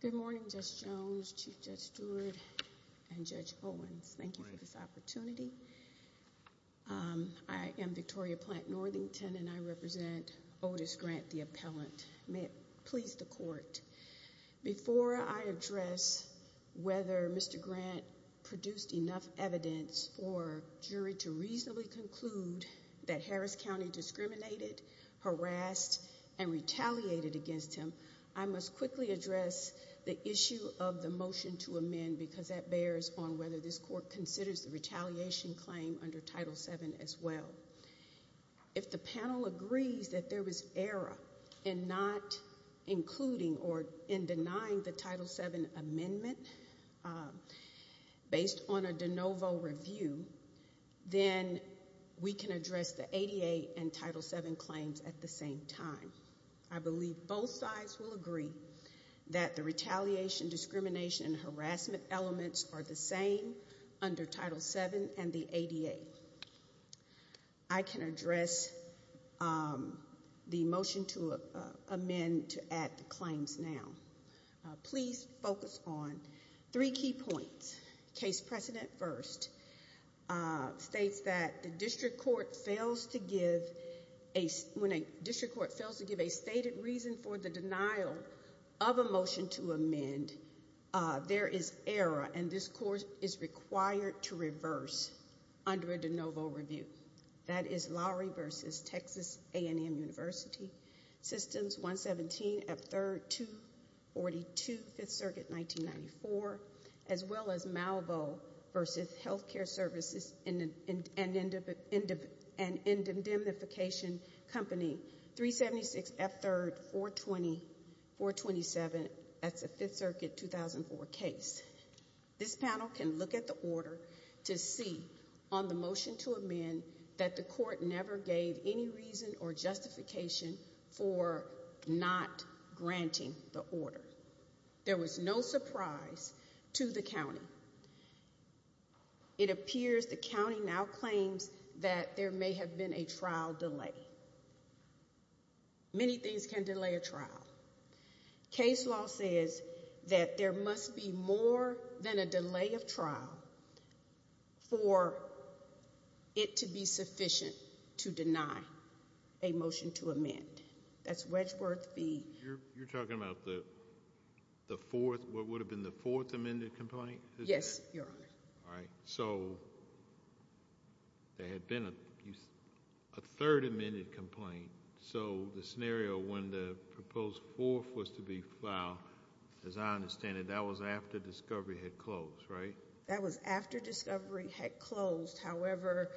Good morning Judge Jones, Chief Judge Stewart, and Judge Owens. Thank you for this opportunity. I am Victoria Plant Northington and I represent Otis Grant the appellant. May it please the court, before I address whether Mr. Grant produced enough evidence for jury to reasonably conclude that Harris County discriminated, harassed, and retaliated against him, I must quickly address the issue of the motion to amend because that bears on whether this court considers the retaliation claim under Title VII as well. If the panel agrees that there was error in not including or in denying the Title VII amendment based on a de novo review, then we can address the 88 and Title VII claims at the same time. I believe both sides will agree that the retaliation, discrimination, and harassment elements are the same under Title VII and the 88. I can address the motion to amend to add the claims now. Please focus on three key points. Case precedent first states that the district court fails to give a stated reason for the denial of a motion to amend. There is error and this court is required to reverse under a de novo review. That is Lowry v. Texas A&M University, Systems 117F3-242, 5th Circuit, 1994, as well as Malvo v. Healthcare Services and Indemnification Company, 376F3-420, 427, that's a 5th Circuit 2004 case. This panel can look at the order to see on the motion to amend that the court never gave any reason or justification for not granting the order. There was no surprise to the county. It appears the county now claims that there may have been a trial delay. Many things can delay a trial. Case law says that there must be more than a delay of trial for it to be sufficient to deny a motion to amend. That's Wedgworth v. You're talking about the fourth, what would have been the fourth amended complaint? Yes, Your Honor. All right. So there had been a third amended complaint, so the scenario when the proposed fourth was to be filed, as I understand it, that was after discovery had closed, right? That was after discovery had closed, however,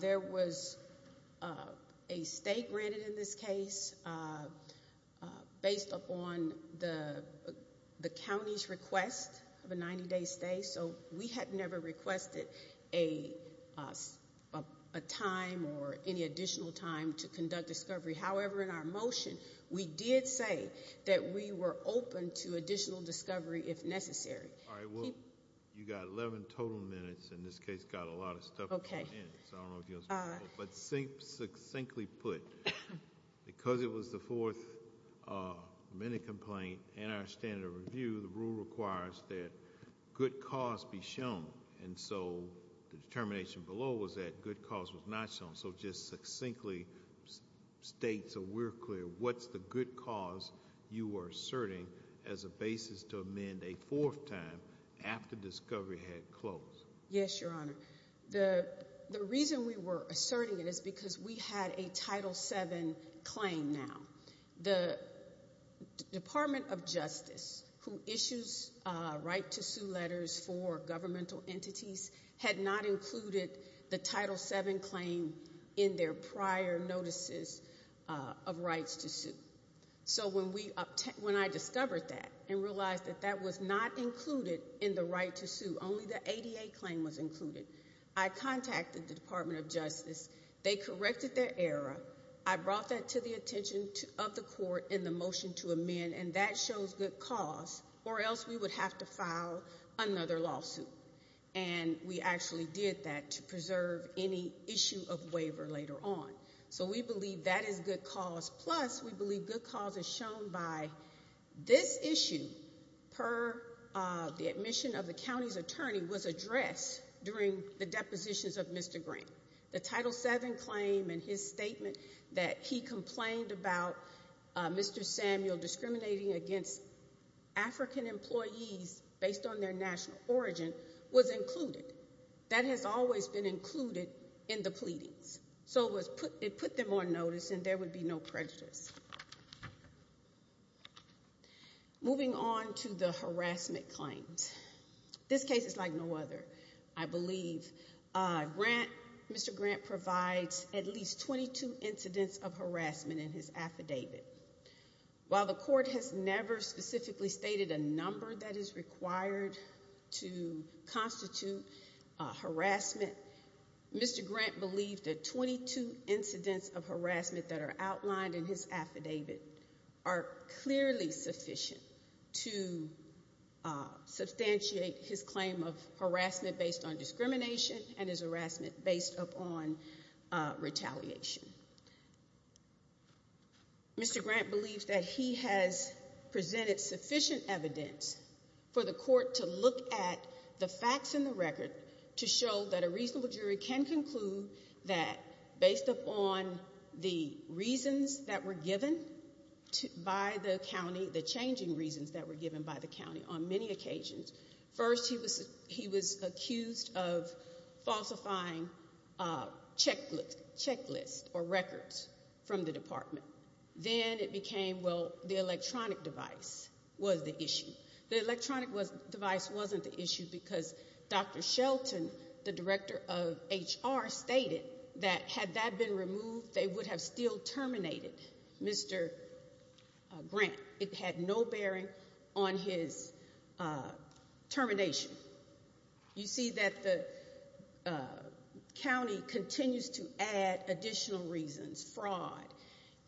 there was a stay granted in this case based upon the county's request of a 90-day stay. So we had never requested a time or any additional time to conduct discovery. However, in our motion, we did say that we were open to additional discovery if necessary. All right. Well, you got 11 total minutes, and this case got a lot of stuff going in, so I don't know if you want to speak to that, but succinctly put, because it was the fourth amended complaint and our standard of review, the rule requires that good cause be shown, and so the determination below was that good cause was not shown. So just succinctly state so we're clear, what's the good cause you are asserting as a basis to amend a fourth time after discovery had closed? Yes, Your Honor. The reason we were asserting it is because we had a Title VII claim now. The Department of Justice, who issues right to sue letters for governmental entities, had not included the Title VII claim in their prior notices of rights to sue. So when I discovered that and realized that that was not included in the right to sue, only the ADA claim was included, I contacted the Department of Justice. They corrected their error. I brought that to the attention of the court in the motion to amend, and that shows good cause, or else we would have to file another lawsuit, and we actually did that to preserve any issue of waiver later on. So we believe that is good cause, plus we believe good cause is shown by this issue per the admission of the county's attorney was addressed during the depositions of Mr. Grant. The Title VII claim and his statement that he complained about Mr. Samuel discriminating against African employees based on their national origin was included. That has always been included in the pleadings. So it put them on notice, and there would be no prejudice. Moving on to the harassment claims. This case is like no other, I believe. Mr. Grant provides at least 22 incidents of harassment in his affidavit. While the court has never specifically stated a number that is required to constitute harassment, Mr. Grant believed that 22 incidents of harassment that are outlined in his affidavit are clearly sufficient to substantiate his claim of harassment based on discrimination and his harassment based upon retaliation. Mr. Grant believes that he has presented sufficient evidence for the court to look at the facts in the record to show that a reasonable jury can conclude that, based upon the reasons that were given by the county, the changing reasons that were given by the county on many occasions. First, he was accused of falsifying checklists or records from the department. Then it became, well, the electronic device was the issue. The electronic device wasn't the issue because Dr. Shelton, the director of HR, stated that had that been removed, they would have still terminated Mr. Grant. It had no bearing on his termination. You see that the county continues to add additional reasons, fraud,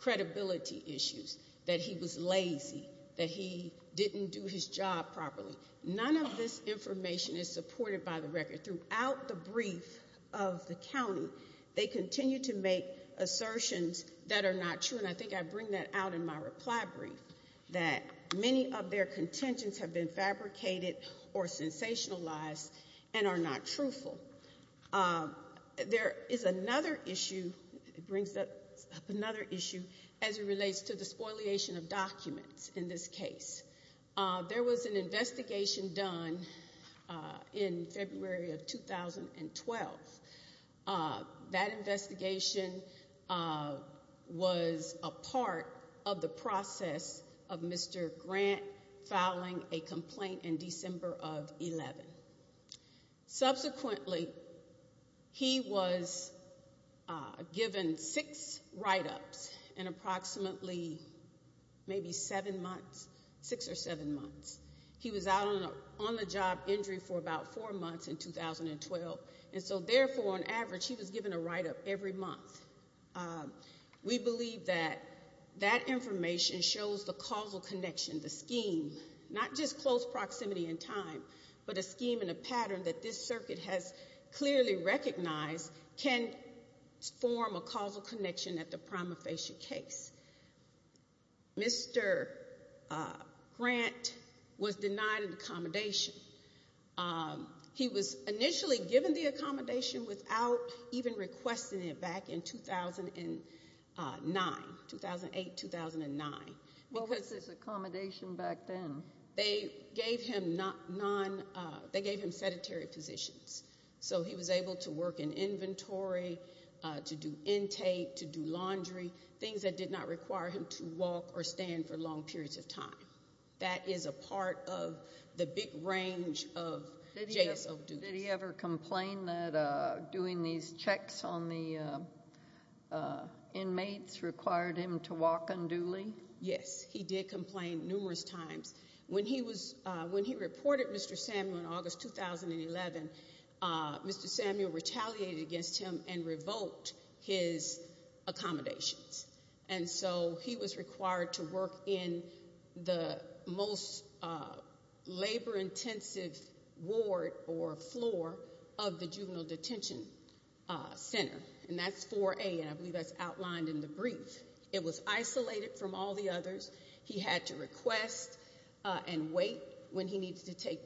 credibility issues, that he was lazy, that he didn't do his job properly. None of this information is supported by the record. Throughout the brief of the county, they continue to make assertions that are not true. And I think I bring that out in my reply brief, that many of their contentions have been fabricated or sensationalized and are not truthful. There is another issue, it brings up another issue, as it relates to the spoliation of documents in this case. There was an investigation done in February of 2012. That investigation was a part of the process of Mr. Grant filing a complaint in December of 11. Subsequently, he was given six write-ups in approximately maybe seven months. Six or seven months. He was out on the job injury for about four months in 2012. And so therefore, on average, he was given a write-up every month. We believe that that information shows the causal connection, the scheme. Not just close proximity in time, but a scheme and a pattern that this circuit has clearly recognized can form a causal connection at the prima facie case. Mr. Grant was denied an accommodation. He was initially given the accommodation without even requesting it back in 2009, 2008, 2009. What was his accommodation back then? They gave him sedentary positions. So he was able to work in inventory, to do intake, to do laundry, things that did not require him to walk or stand for long periods of time. That is a part of the big range of JSO duties. Did he ever complain that doing these checks on the inmates required him to walk unduly? Yes, he did complain numerous times. When he reported Mr. Samuel in August 2011, Mr. Samuel retaliated against him and revoked his accommodations. And so he was required to work in the most labor intensive ward or floor of the juvenile detention center. And that's 4A, and I believe that's outlined in the brief. It was isolated from all the others. He had to request and wait when he needs to take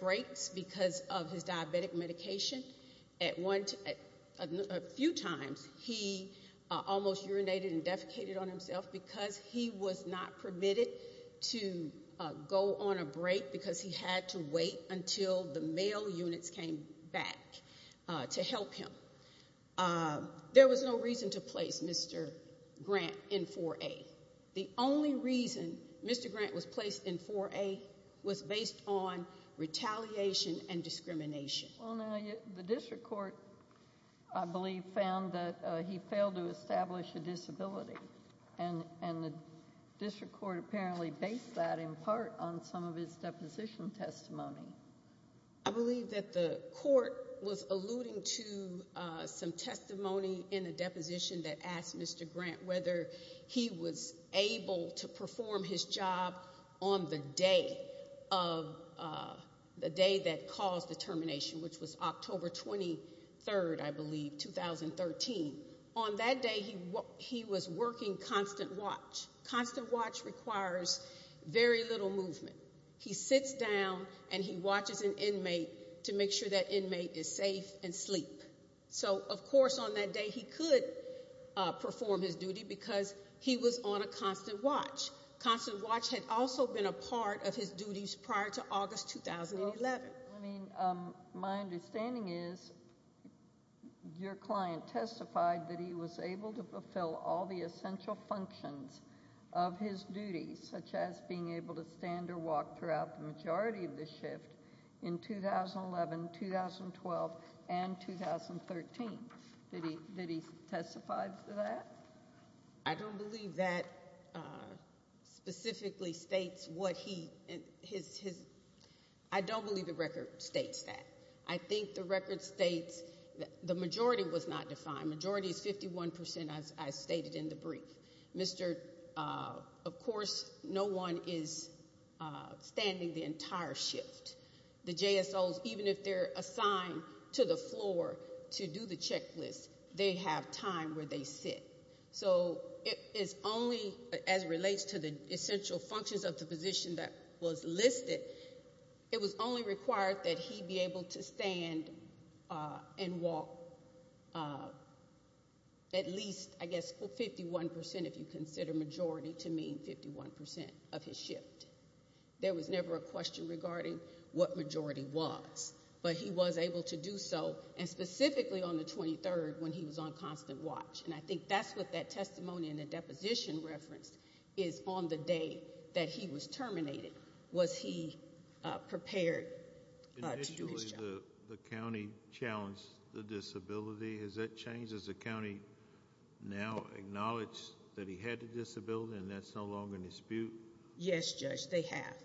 breaks because of his diabetic medication. At one, a few times, he almost urinated and defecated on himself because he was not permitted to go on a break because he had to wait until the mail units came back to help him. There was no reason to place Mr. Grant in 4A. The only reason Mr. Grant was placed in 4A was based on retaliation and discrimination. Well, now, the district court, I believe, found that he failed to establish a disability. And the district court apparently based that in part on some of his deposition testimony. I believe that the court was alluding to some testimony in a deposition that asked Mr. Grant whether he was able to perform his job on the day that caused the termination, which was October 23rd, I believe, 2013. On that day, he was working constant watch. Constant watch requires very little movement. He sits down and he watches an inmate to make sure that inmate is safe and sleep. So, of course, on that day, he could perform his duty because he was on a constant watch. Constant watch had also been a part of his duties prior to August 2011. I mean, my understanding is your client testified that he was able to fulfill all the essential functions of his duties, such as being able to stand or not stand between 2012 and 2013, that he testified to that? I don't believe that specifically states what he, his. I don't believe the record states that. I think the record states that the majority was not defined. Majority is 51%, as I stated in the brief. Mr., of course, no one is standing the entire shift. The JSOs, even if they're assigned to the floor to do the checklist, they have time where they sit. So, it is only, as it relates to the essential functions of the position that was listed, it was only required that he be able to stand and walk at least, I guess, 51%, if you consider majority to mean 51% of his shift. There was never a question regarding what majority was. But he was able to do so, and specifically on the 23rd, when he was on constant watch. And I think that's what that testimony in the deposition reference is on the day that he was terminated. Was he prepared to do his job? Initially, the county challenged the disability. Has that changed? Does the county now acknowledge that he had a disability and that's no longer in dispute? Yes, Judge, they have.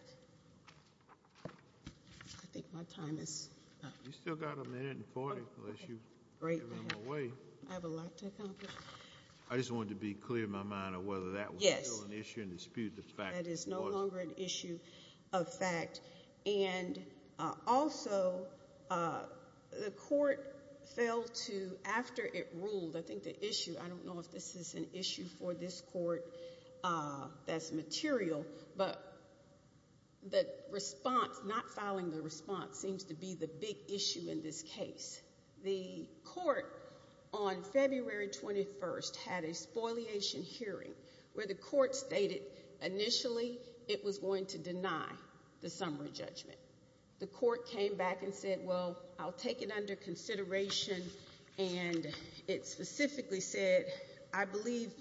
I think my time is up. You still got a minute and 40, unless you're giving them away. I have a lot to accomplish. I just wanted to be clear in my mind of whether that was still an issue in dispute with the fact that it wasn't. Yes, that is no longer an issue of fact. And also, the court failed to, after it ruled, I think the issue, I don't know if this is an issue for this court that's material, but the response, not filing the response, seems to be the big issue in this case. The court on February 21st had a spoliation hearing where the court stated initially it was going to deny the summary judgment. The court came back and said, well, I'll take it under consideration and it specifically said, I believe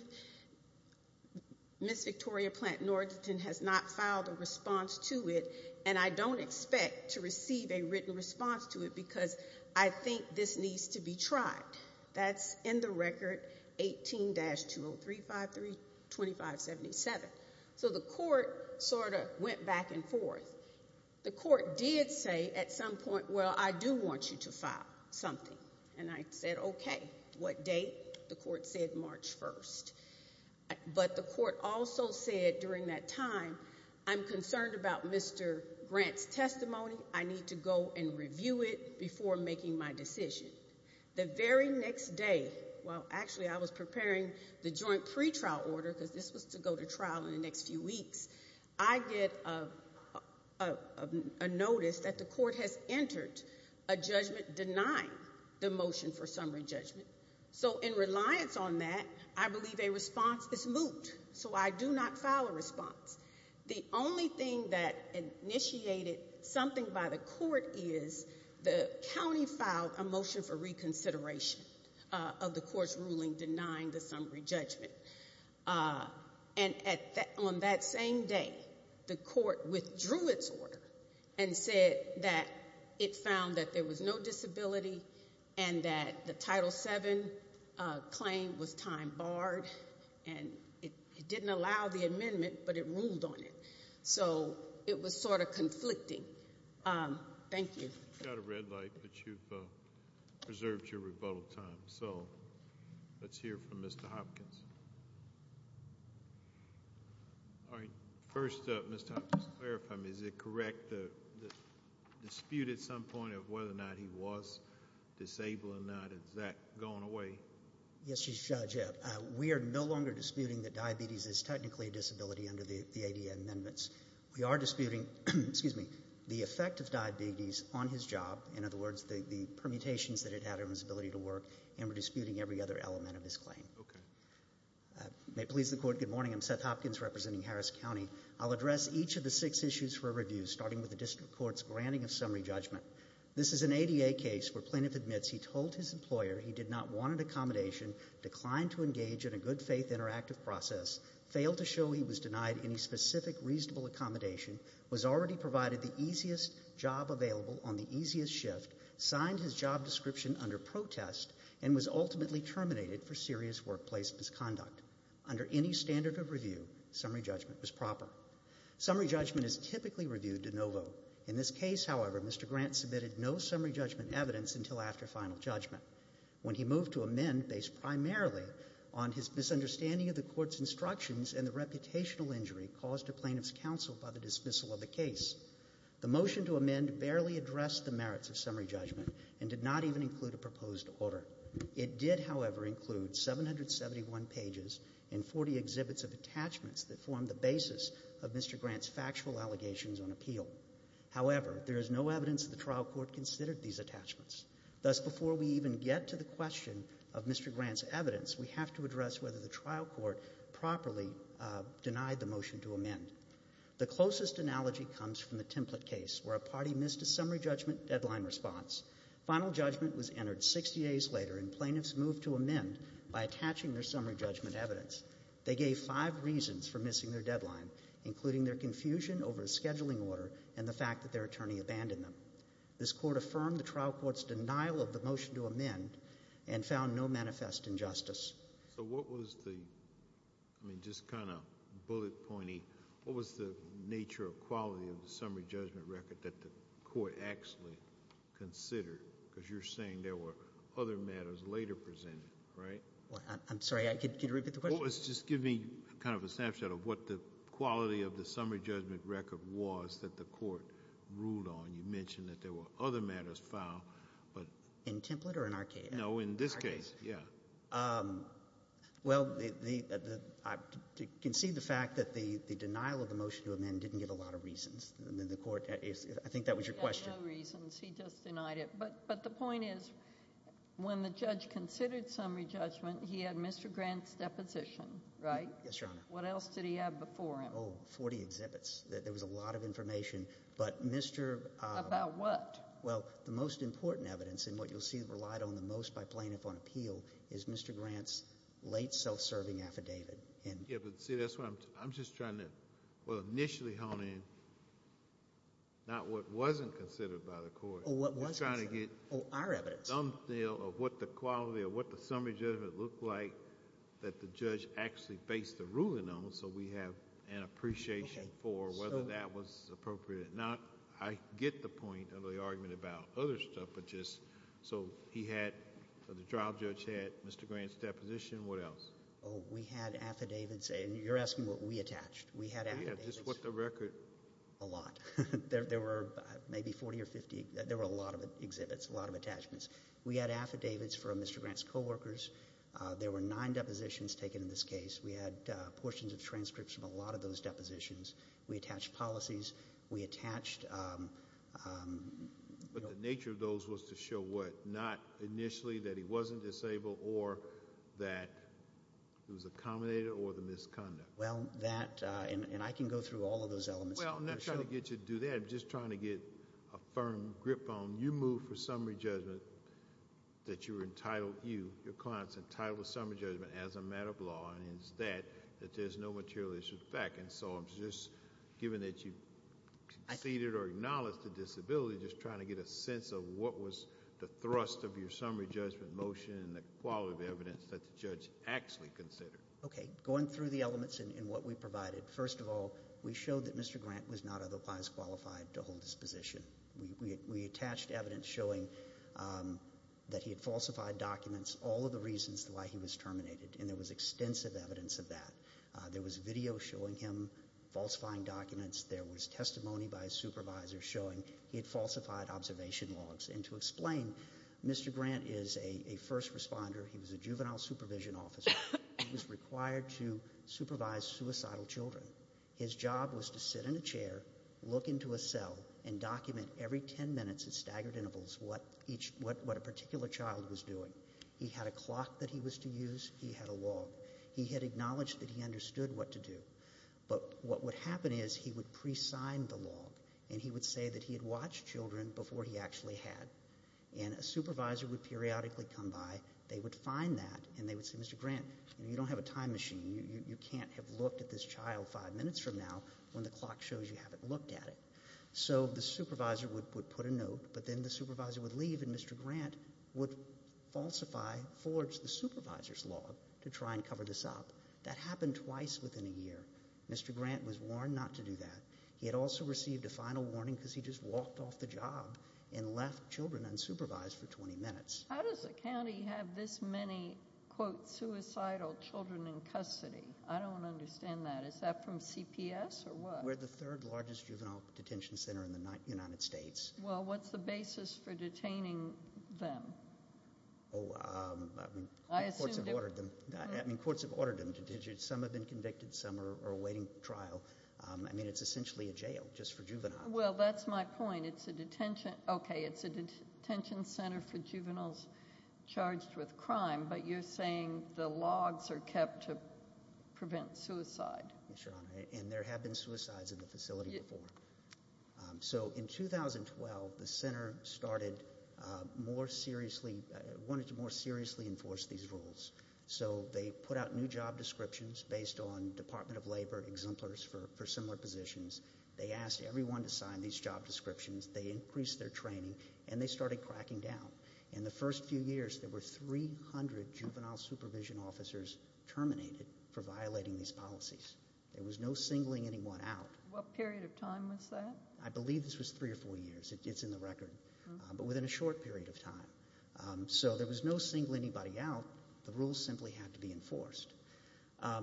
Ms. Victoria Platt-Northington has not filed a response to it and I don't expect to receive a written response to it because I think this needs to be tried. That's in the record 18-2035, 2577. So the court sort of went back and forth. The court did say at some point, well, I do want you to file something. And I said, okay, what date? The court said March 1st. But the court also said during that time, I'm concerned about Mr. Grant's testimony. I need to go and review it before making my decision. The very next day, well, actually I was preparing the joint pretrial order because this was to go to trial in the next few weeks. I get a notice that the court has entered a judgment denying the motion for summary judgment. So in reliance on that, I believe a response is moot, so I do not file a response. The only thing that initiated something by the court is the county filed a motion for reconsideration of the court's ruling denying the summary judgment. And on that same day, the court withdrew its order and said that it found that there was no disability and that the Title VII claim was time barred. And it didn't allow the amendment, but it ruled on it. So it was sort of conflicting. Thank you. You've got a red light, but you've preserved your rebuttal time. So let's hear from Mr. Hopkins. All right, first up, Mr. Hopkins, clarify me. Is it correct to dispute at some point of whether or not he was disabled or not? Is that going away? Yes, Judge, we are no longer disputing that diabetes is technically a disability under the ADA amendments. We are disputing, excuse me, the effect of diabetes on his job, in other words, the permutations that it had on his ability to work, and we're disputing every other element of his claim. Okay. May it please the court, good morning. I'm Seth Hopkins representing Harris County. I'll address each of the six issues for review, starting with the district court's granting of summary judgment. This is an ADA case where plaintiff admits he told his employer he did not want an accommodation, declined to engage in a good faith interactive process, failed to show he was denied any specific reasonable accommodation, was already provided the easiest job available on the easiest shift, signed his job description under protest, and was ultimately terminated for serious workplace misconduct. Under any standard of review, summary judgment was proper. Summary judgment is typically reviewed de novo. In this case, however, Mr. Grant submitted no summary judgment evidence until after final judgment. When he moved to amend, based primarily on his misunderstanding of the court's instructions and the reputational injury caused to plaintiff's counsel by the dismissal of the case, the motion to amend barely addressed the merits of summary judgment and did not even include a proposed order. It did, however, include 771 pages and 40 exhibits of attachments that formed the basis of Mr. Grant's factual allegations on appeal. However, there is no evidence the trial court considered these attachments. Thus, before we even get to the question of Mr. Grant's evidence, we have to address whether the trial court properly denied the motion to amend. The closest analogy comes from the template case, where a party missed a summary judgment deadline response. Final judgment was entered 60 days later, and plaintiffs moved to amend by attaching their summary judgment evidence. They gave five reasons for missing their deadline, including their confusion over the scheduling order and the fact that their attorney abandoned them. This court affirmed the trial court's denial of the motion to amend and found no manifest injustice. So what was the, I mean, just kind of bullet pointy, what was the nature or quality of the summary judgment record that the court actually considered? because you're saying there were other matters later presented, right? I'm sorry, can you repeat the question? Well, just give me kind of a snapshot of what the quality of the summary judgment record was that the court ruled on. You mentioned that there were other matters filed, but- In template or in arcade? No, in this case, yeah. Well, I can see the fact that the denial of the motion to amend didn't get a lot of reasons. And then the court, I think that was your question. He had no reasons, he just denied it. But the point is, when the judge considered summary judgment, he had Mr. Grant's deposition, right? Yes, Your Honor. What else did he have before him? 40 exhibits. There was a lot of information, but Mr- About what? Well, the most important evidence, and what you'll see relied on the most by plaintiff on appeal, is Mr. Grant's late self-serving affidavit. Yeah, but see, that's what I'm just trying to, well, initially hone in, not what wasn't considered by the court. What was considered. We're trying to get- Our evidence. Thumbnail of what the quality or what the summary judgment looked like that the judge actually based the ruling on, so we have an appreciation for whether that was appropriate. Now, I get the point of the argument about other stuff, but just, so he had, the trial judge had Mr. Grant's deposition, what else? We had affidavits, and you're asking what we attached. We had affidavits- Yeah, just what the record- A lot. There were maybe 40 or 50, there were a lot of exhibits, a lot of attachments. We had affidavits from Mr. Grant's co-workers. There were nine depositions taken in this case. We had portions of transcripts from a lot of those depositions. We attached policies, we attached- But the nature of those was to show what? Not initially that he wasn't disabled or that it was accommodated or the misconduct. Well, that, and I can go through all of those elements. Well, I'm not trying to get you to do that, I'm just trying to get a firm grip on you move for you, your client's entitled to summary judgment as a matter of law, and it's that, that there's no material issue with the fact, and so I'm just, given that you conceded or acknowledged the disability, just trying to get a sense of what was the thrust of your summary judgment motion and the quality of evidence that the judge actually considered. Okay, going through the elements in what we provided. First of all, we showed that Mr. Grant was not otherwise qualified to hold this position. We attached evidence showing that he had falsified documents, all of the reasons why he was terminated, and there was extensive evidence of that. There was video showing him falsifying documents, there was testimony by a supervisor showing he had falsified observation logs. And to explain, Mr. Grant is a first responder, he was a juvenile supervision officer. He was required to supervise suicidal children. His job was to sit in a chair, look into a cell, and document every ten minutes at staggered intervals what a particular child was doing. He had a clock that he was to use, he had a log. He had acknowledged that he understood what to do. But what would happen is, he would pre-sign the log, and he would say that he had watched children before he actually had. And a supervisor would periodically come by, they would find that, and they would say, Mr. Grant, you don't have a time machine. You can't have looked at this child five minutes from now when the clock shows you haven't looked at it. So the supervisor would put a note, but then the supervisor would leave, and Mr. Grant would falsify, forge the supervisor's log to try and cover this up. That happened twice within a year. Mr. Grant was warned not to do that. He had also received a final warning because he just walked off the job and left children unsupervised for 20 minutes. How does a county have this many, quote, suicidal children in custody? I don't understand that. Is that from CPS or what? We're the third largest juvenile detention center in the United States. Well, what's the basis for detaining them? I assume- I mean, courts have ordered them, some have been convicted, some are awaiting trial. I mean, it's essentially a jail, just for juveniles. Well, that's my point. It's a detention, okay, it's a detention center for juveniles charged with crime, but you're saying the logs are kept to prevent suicide. Yes, Your Honor, and there have been suicides in the facility before. So in 2012, the center started more seriously, wanted to more seriously enforce these rules. So they put out new job descriptions based on Department of Labor exemplars for similar positions. They asked everyone to sign these job descriptions, they increased their training, and they started cracking down. In the first few years, there were 300 juvenile supervision officers terminated for violating these policies. There was no singling anyone out. What period of time was that? I believe this was three or four years, it's in the record, but within a short period of time. So there was no singling anybody out, the rules simply had to be enforced.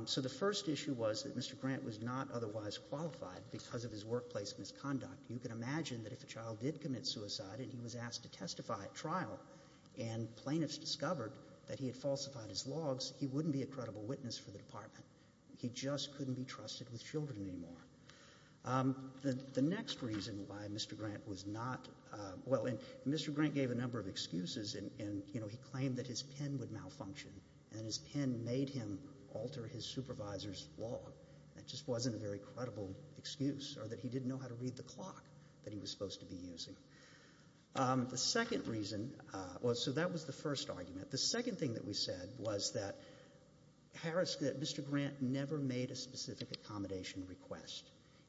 So the first issue was that Mr. Grant was not otherwise qualified because of his workplace misconduct. You can imagine that if a child did commit suicide and he was asked to testify at trial and plaintiffs discovered that he had falsified his logs, he wouldn't be a credible witness for the department. He just couldn't be trusted with children anymore. The next reason why Mr. Grant was not, well, Mr. Grant gave a number of excuses and he claimed that his pen would malfunction and his pen made him alter his supervisor's log. That just wasn't a very credible excuse, or that he didn't know how to read the clock that he was supposed to be using. The second reason, well, so that was the first argument. The second thing that we said was that Mr. Grant never made a specific accommodation request.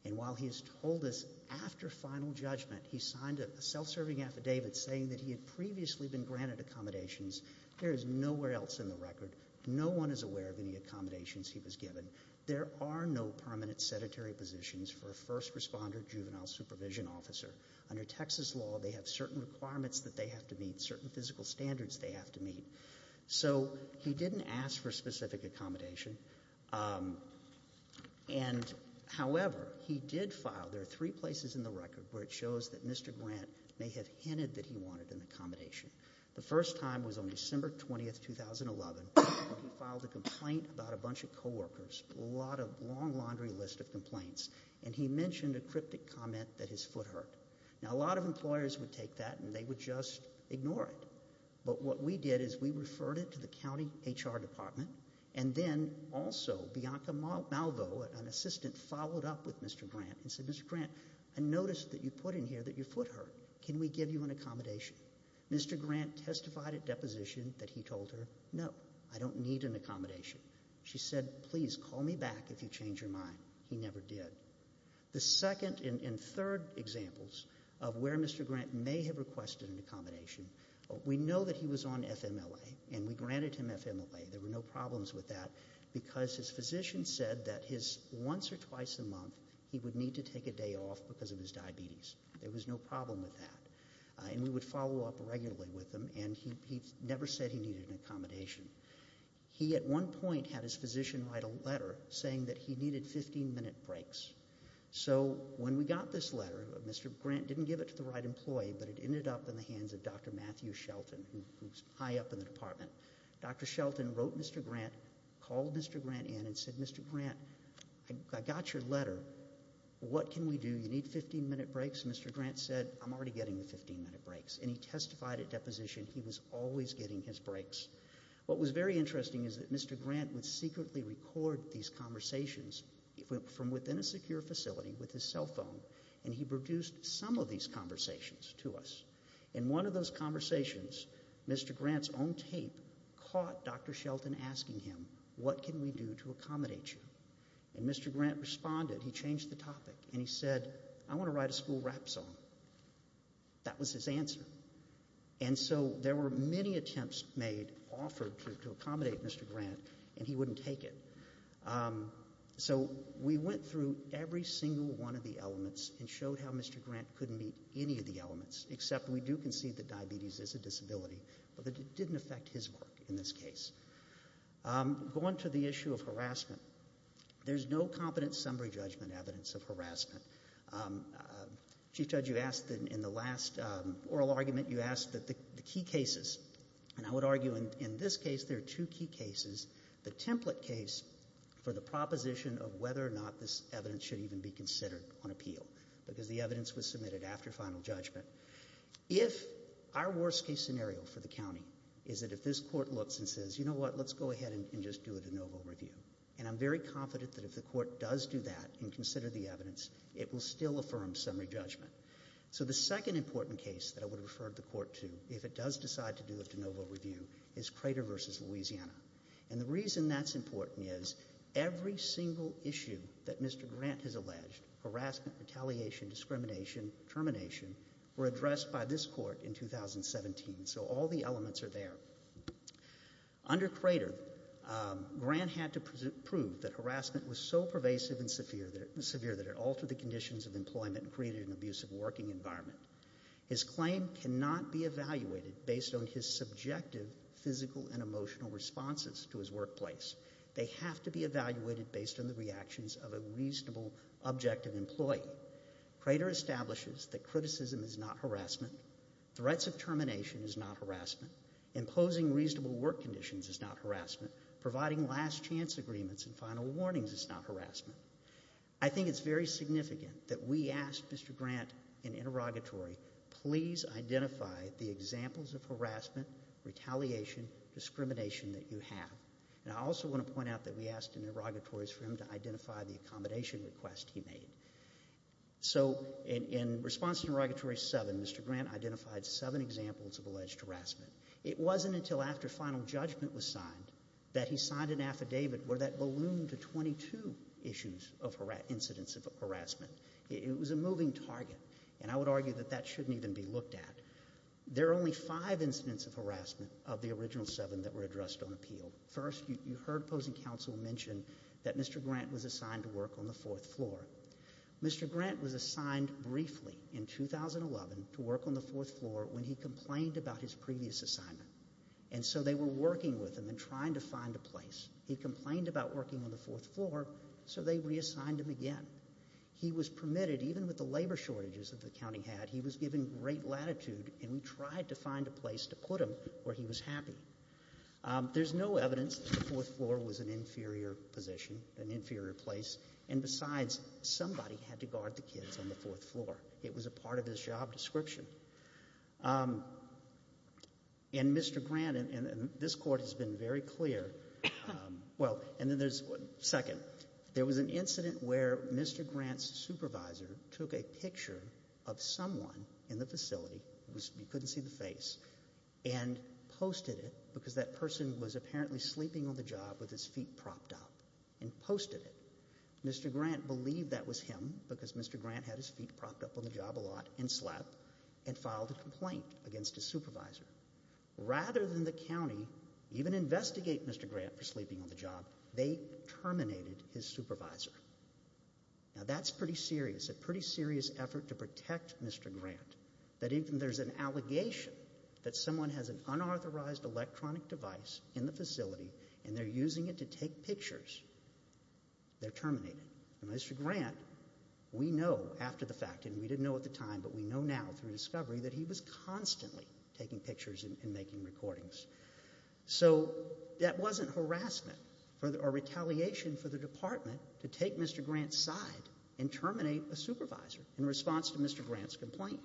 And while he has told us after final judgment, he signed a self-serving affidavit saying that he had previously been granted accommodations, there is nowhere else in the record, no one is aware of any accommodations he was given. There are no permanent sedentary positions for a first responder juvenile supervision officer. Under Texas law, they have certain requirements that they have to meet, certain physical standards they have to meet. So he didn't ask for a specific accommodation, and the first time was on December 20th, 2011, when he filed a complaint about a bunch of co-workers, a lot of long laundry list of complaints, and he mentioned a cryptic comment that his foot hurt. Now a lot of employers would take that and they would just ignore it. But what we did is we referred it to the county HR department, and then also Bianca Malvo, an assistant, followed up with Mr. Grant and said, Mr. Grant, I noticed that you put in here that your foot hurt, can we give you an accommodation? Mr. Grant testified at deposition that he told her, no, I don't need an accommodation. She said, please call me back if you change your mind. He never did. The second and third examples of where Mr. Grant may have requested an accommodation, we know that he was on FMLA and we granted him FMLA, there were no problems with that. Because his physician said that his once or twice a month, he would need to take a day off because of his diabetes. There was no problem with that. And we would follow up regularly with him, and he never said he needed an accommodation. He at one point had his physician write a letter saying that he needed 15 minute breaks. So when we got this letter, Mr. Grant didn't give it to the right employee, but it ended up in the hands of Dr. Matthew Shelton, who's high up in the department. Dr. Shelton wrote Mr. Grant, called Mr. Grant in and said, Mr. Grant, I got your letter. What can we do? You need 15 minute breaks? Mr. Grant said, I'm already getting the 15 minute breaks. And he testified at deposition he was always getting his breaks. What was very interesting is that Mr. Grant would secretly record these conversations from within a secure facility with his cell phone. And he produced some of these conversations to us. In one of those conversations, Mr. Grant's own tape caught Dr. Shelton asking him, what can we do to accommodate you? And Mr. Grant responded, he changed the topic, and he said, I want to write a school rap song. That was his answer. And so there were many attempts made, offered to accommodate Mr. Grant, and he wouldn't take it. So we went through every single one of the elements and showed how Mr. Grant couldn't meet any of the elements, except we do concede that diabetes is a disability, but it didn't affect his work in this case. Go on to the issue of harassment. There's no competent summary judgment evidence of harassment. Chief Judge, you asked in the last oral argument, you asked the key cases. And I would argue in this case, there are two key cases. The template case for the proposition of whether or not this evidence should even be considered on appeal, because the evidence was submitted after final judgment, if our worst case scenario for the county is that if this court looks and says, you know what, let's go ahead and just do a de novo review. And I'm very confident that if the court does do that and consider the evidence, it will still affirm summary judgment. So the second important case that I would refer the court to, if it does decide to do a de novo review, is Crater versus Louisiana. And the reason that's important is, every single issue that Mr. Grant has alleged, harassment, retaliation, discrimination, termination, were addressed by this court in 2017. So all the elements are there. Under Crater, Grant had to prove that harassment was so pervasive and abusive working environment. His claim cannot be evaluated based on his subjective physical and emotional responses to his workplace. They have to be evaluated based on the reactions of a reasonable, objective employee. Crater establishes that criticism is not harassment. Threats of termination is not harassment. Imposing reasonable work conditions is not harassment. Providing last chance agreements and final warnings is not harassment. I think it's very significant that we asked Mr. Grant in interrogatory, please identify the examples of harassment, retaliation, discrimination that you have. And I also want to point out that we asked in interrogatories for him to identify the accommodation request he made. So in response to interrogatory seven, Mr. Grant identified seven examples of alleged harassment. It wasn't until after final judgment was signed that he signed an affidavit where that balloon to 22 issues of incidents of harassment, it was a moving target. And I would argue that that shouldn't even be looked at. There are only five incidents of harassment of the original seven that were addressed on appeal. First, you heard opposing counsel mention that Mr. Grant was assigned to work on the fourth floor. Mr. Grant was assigned briefly in 2011 to work on the fourth floor when he complained about his previous assignment. And so they were working with him and trying to find a place. He complained about working on the fourth floor, so they reassigned him again. He was permitted, even with the labor shortages that the county had, he was given great latitude, and we tried to find a place to put him where he was happy. There's no evidence that the fourth floor was an inferior position, an inferior place. And besides, somebody had to guard the kids on the fourth floor. It was a part of his job description. And Mr. Grant, and this court has been very clear. Well, and then there's, second, there was an incident where Mr. Grant's supervisor took a picture of someone in the facility, you couldn't see the face, and posted it because that person was apparently sleeping on the job with his feet propped up. And posted it. Mr. Grant believed that was him, because Mr. Grant had his feet propped up on the job a lot and slept, and filed a complaint against his supervisor. Rather than the county even investigate Mr. Grant for sleeping on the job, they terminated his supervisor. Now that's pretty serious, a pretty serious effort to protect Mr. Grant. That if there's an allegation that someone has an unauthorized electronic device in the facility, and they're using it to take pictures, they're terminated. And Mr. Grant, we know after the fact, and we didn't know at the time, but we know now through discovery that he was constantly taking pictures and making recordings. So that wasn't harassment or retaliation for the department to take Mr. Grant's side and terminate a supervisor in response to Mr. Grant's complaint.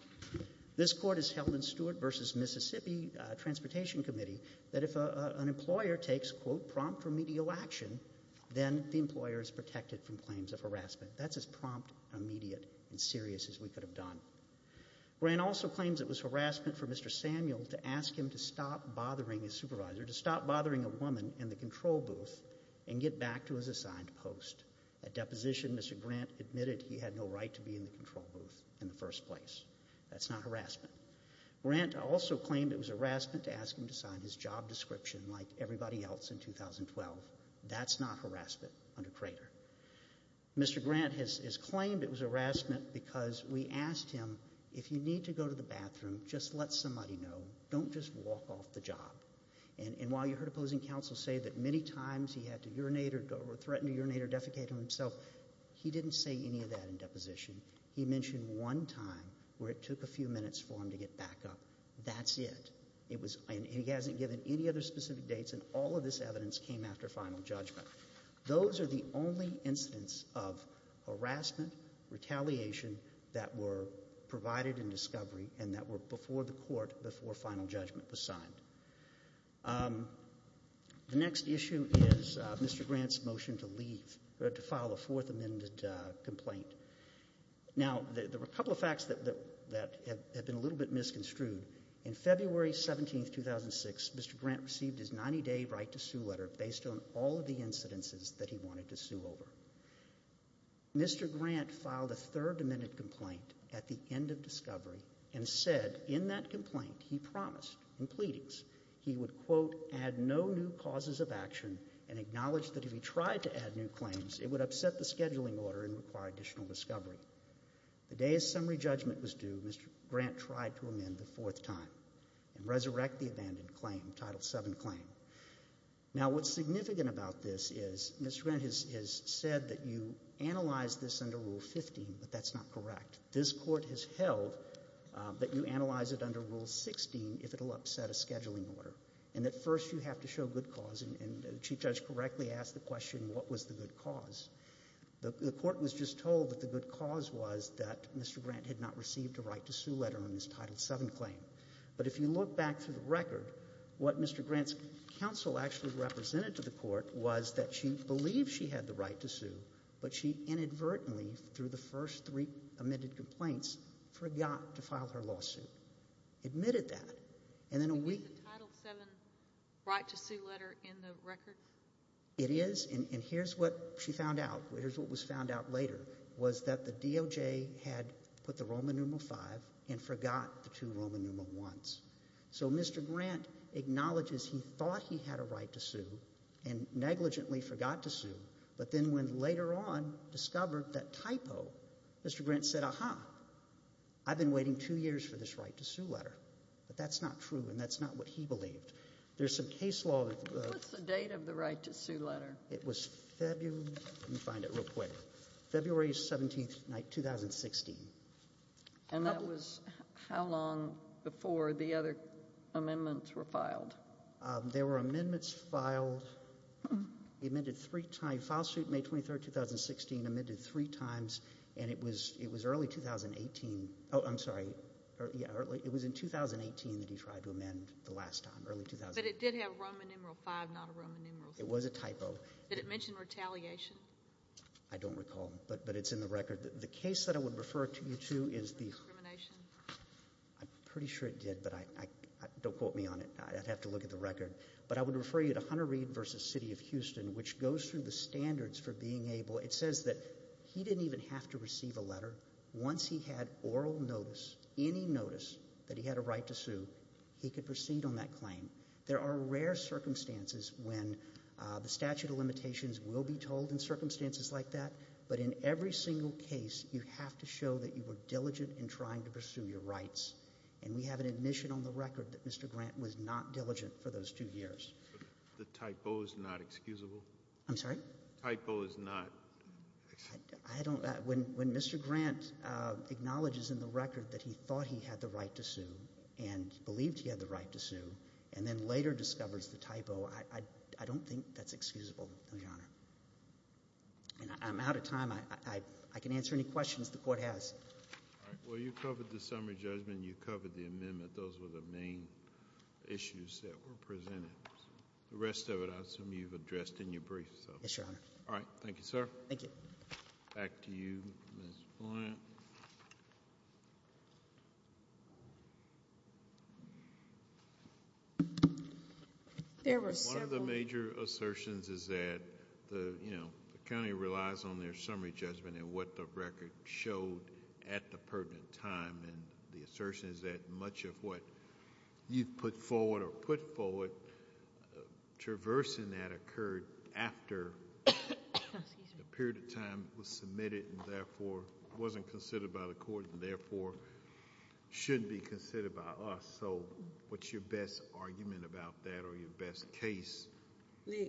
This court has held in Stewart versus Mississippi Transportation Committee that if an employer takes quote, prompt remedial action, then the employer is protected from claims of harassment. That's as prompt, immediate, and serious as we could have done. Grant also claims it was harassment for Mr. Samuel to ask him to stop bothering his supervisor, to stop bothering a woman in the control booth, and get back to his assigned post. At deposition, Mr. Grant admitted he had no right to be in the control booth in the first place. That's not harassment. Grant also claimed it was harassment to ask him to sign his job description like everybody else in 2012. That's not harassment under Crater. Mr. Grant has claimed it was harassment because we asked him, if you need to go to the bathroom, just let somebody know, don't just walk off the job. And while you heard opposing counsel say that many times he had to urinate or threatened to urinate or defecate on himself, he didn't say any of that in deposition. He mentioned one time where it took a few minutes for him to get back up. That's it. It was, and he hasn't given any other specific dates, and all of this evidence came after final judgment. Those are the only incidents of harassment, retaliation, that were provided in discovery, and that were before the court, before final judgment was signed. The next issue is Mr. Grant's motion to leave, or to file a fourth amended complaint. Now, there were a couple of facts that had been a little bit misconstrued. In February 17th, 2006, Mr. Grant received his 90 day right to sue letter based on all of the incidences that he wanted to sue over. Mr. Grant filed a third amended complaint at the end of discovery, and said in that complaint, he promised, in pleadings, he would quote, add no new causes of action, and acknowledge that if he tried to add new claims, it would upset the scheduling order and require additional discovery. The day his summary judgment was due, Mr. Grant tried to amend the fourth time, and resurrect the abandoned claim, Title VII claim. Now, what's significant about this is, Mr. Grant has said that you analyze this under Rule 15, but that's not correct. This court has held that you analyze it under Rule 16, if it'll upset a scheduling order. And at first, you have to show good cause, and the Chief Judge correctly asked the question, what was the good cause? The court was just told that the good cause was that Mr. Grant had not received a right to sue letter on his Title VII claim. But if you look back through the record, what Mr. Grant's counsel actually represented to the court was that she believed she had the right to sue, but she inadvertently, through the first three amended complaints, forgot to file her lawsuit. Admitted that, and then a week- Is the Title VII right to sue letter in the record? It is, and here's what she found out, here's what was found out later, was that the DOJ had put the Roman numeral V and forgot the two Roman numeral I's. So Mr. Grant acknowledges he thought he had a right to sue and negligently forgot to sue, but then when later on discovered that typo, Mr. Grant said, aha, I've been waiting two years for this right to sue letter, but that's not true, and that's not what he believed. There's some case law- What's the date of the right to sue letter? It was February, let me find it real quick. February 17th, 2016. And that was how long before the other amendments were filed? There were amendments filed, he amended three times, file suit May 23rd, 2016, amended three times, and it was early 2018, oh, I'm sorry, it was in 2018 that he tried to amend the last time, early 2018. But it did have Roman numeral V, not a Roman numeral V. It was a typo. Did it mention retaliation? I don't recall, but it's in the record. The case that I would refer you to is the- Discrimination? I'm pretty sure it did, but don't quote me on it, I'd have to look at the record. But I would refer you to Hunter Reed versus City of Houston, which goes through the standards for being able. It says that he didn't even have to receive a letter. Once he had oral notice, any notice that he had a right to sue, he could proceed on that claim. There are rare circumstances when the statute of limitations will be told in circumstances like that. But in every single case, you have to show that you were diligent in trying to pursue your rights. And we have an admission on the record that Mr. Grant was not diligent for those two years. The typo is not excusable? I'm sorry? Typo is not excusable? I don't, when Mr. Grant acknowledges in the record that he thought he had the right to sue and he believed he had the right to sue, and then later discovers the typo, I don't think that's excusable, no, Your Honor. And I'm out of time, I can answer any questions the court has. All right, well, you covered the summary judgment, you covered the amendment, those were the main issues that were presented. The rest of it, I assume you've addressed in your brief, so. Yes, Your Honor. All right, thank you, sir. Thank you. Back to you, Ms. Blunt. There were several- One of the major assertions is that the county relies on their summary judgment and what the record showed at the pertinent time. And the assertion is that much of what you've put forward or put forward, traversing that occurred after the period of time it was submitted and therefore wasn't considered by the court and therefore shouldn't be considered by us. What's your best argument about that or your best case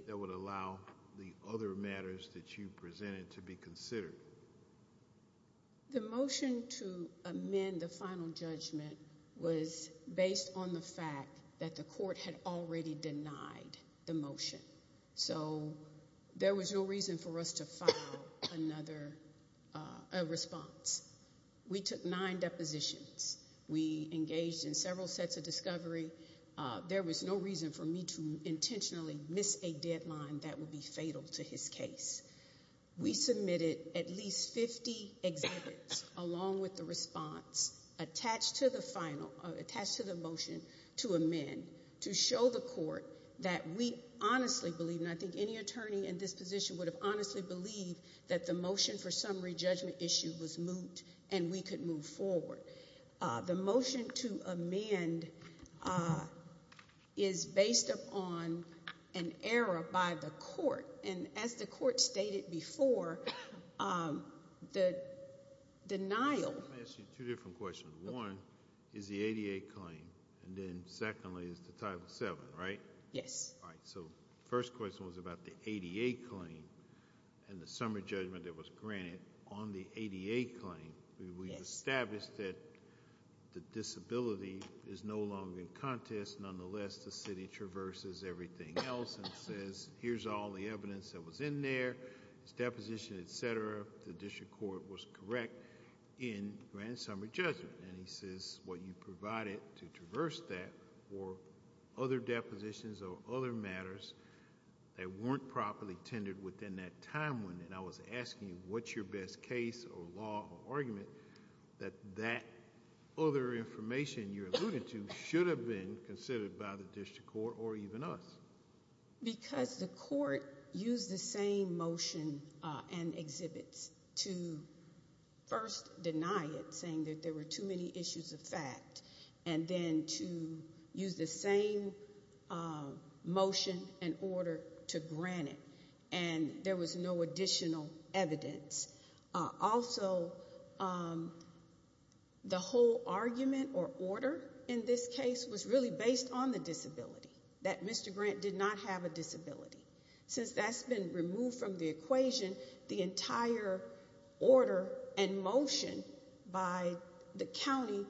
that would allow the other matters that you presented to be considered? The motion to amend the final judgment was based on the fact that the court had already denied the motion. So there was no reason for us to file another response. We took nine depositions. We engaged in several sets of discovery. There was no reason for me to intentionally miss a deadline that would be fatal to his case. We submitted at least 50 exhibits along with the response attached to the motion to amend. To show the court that we honestly believe, and I think any attorney in this position would have honestly believed that the motion for the motion to amend is based upon an error by the court. And as the court stated before, the denial- Let me ask you two different questions. One is the ADA claim and then secondly is the Title VII, right? Yes. All right, so first question was about the ADA claim and the summary judgment that was granted on the ADA claim. We've established that the disability is no longer in contest. Nonetheless, the city traverses everything else and says, here's all the evidence that was in there, it's deposition, etc. The district court was correct in grant summary judgment. And he says, what you provided to traverse that were other depositions or other matters that weren't properly tended within that time limit. And I was asking, what's your best case or law or argument that that other information you alluded to should have been considered by the district court or even us? Because the court used the same motion and exhibits to first deny it, saying that there were too many issues of fact. And then to use the same motion and order to grant it. And there was no additional evidence. Also, the whole argument or order in this case was really based on the disability, that Mr. Grant did not have a disability. Since that's been removed from the equation, the entire order and motion by the county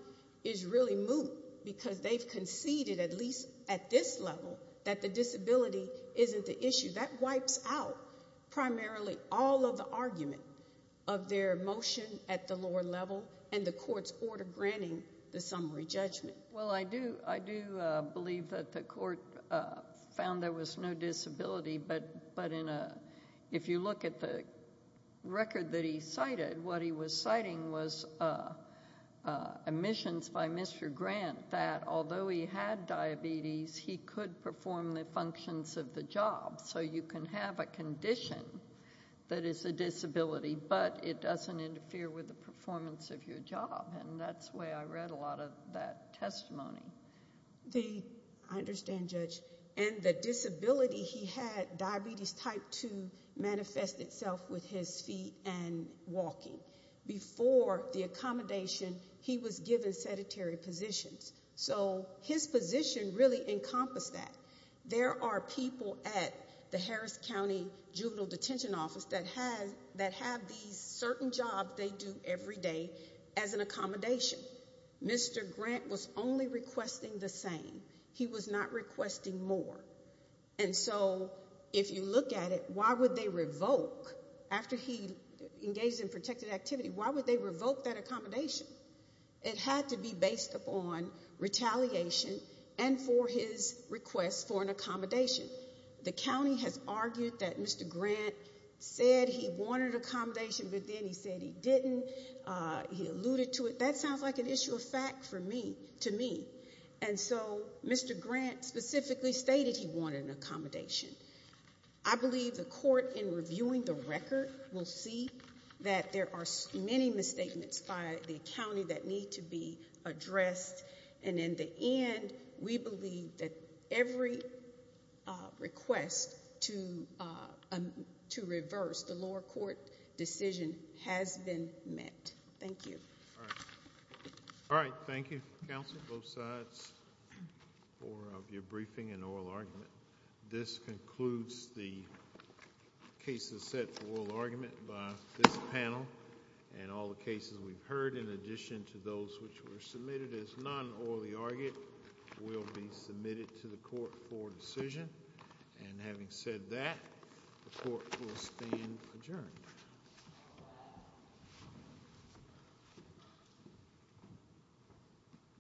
is really moot. Because they've conceded, at least at this level, that the disability isn't the issue. That wipes out primarily all of the argument of their motion at the lower level and the court's order granting the summary judgment. Well, I do believe that the court found there was no disability. But if you look at the record that he cited, what he was citing was admissions by Mr. Grant that although he had diabetes, he could perform the functions of the job. So you can have a condition that is a disability, but it doesn't interfere with the performance of your job. And that's why I read a lot of that testimony. I understand, Judge. And the disability he had, diabetes type 2, manifested itself with his feet and walking. Before the accommodation, he was given sedentary positions. So his position really encompassed that. There are people at the Harris County Juvenile Detention Office that have these certain jobs they do every day as an accommodation. Mr. Grant was only requesting the same. He was not requesting more. And so, if you look at it, why would they revoke, after he engaged in protected activity, why would they revoke that accommodation? It had to be based upon retaliation and for his request for an accommodation. The county has argued that Mr. Grant said he wanted accommodation, but then he said he didn't. He alluded to it. That sounds like an issue of fact to me. And so, Mr. Grant specifically stated he wanted an accommodation. I believe the court, in reviewing the record, will see that there are many misstatements by the county that need to be addressed. And in the end, we believe that every request to reverse the lower court decision has been met. Thank you. All right, thank you, counsel, both sides, for your briefing and oral argument. This concludes the cases set for oral argument by this panel. And all the cases we've heard, in addition to those which were submitted as non-orally argued, will be submitted to the court for decision. And having said that, the court will stand adjourned.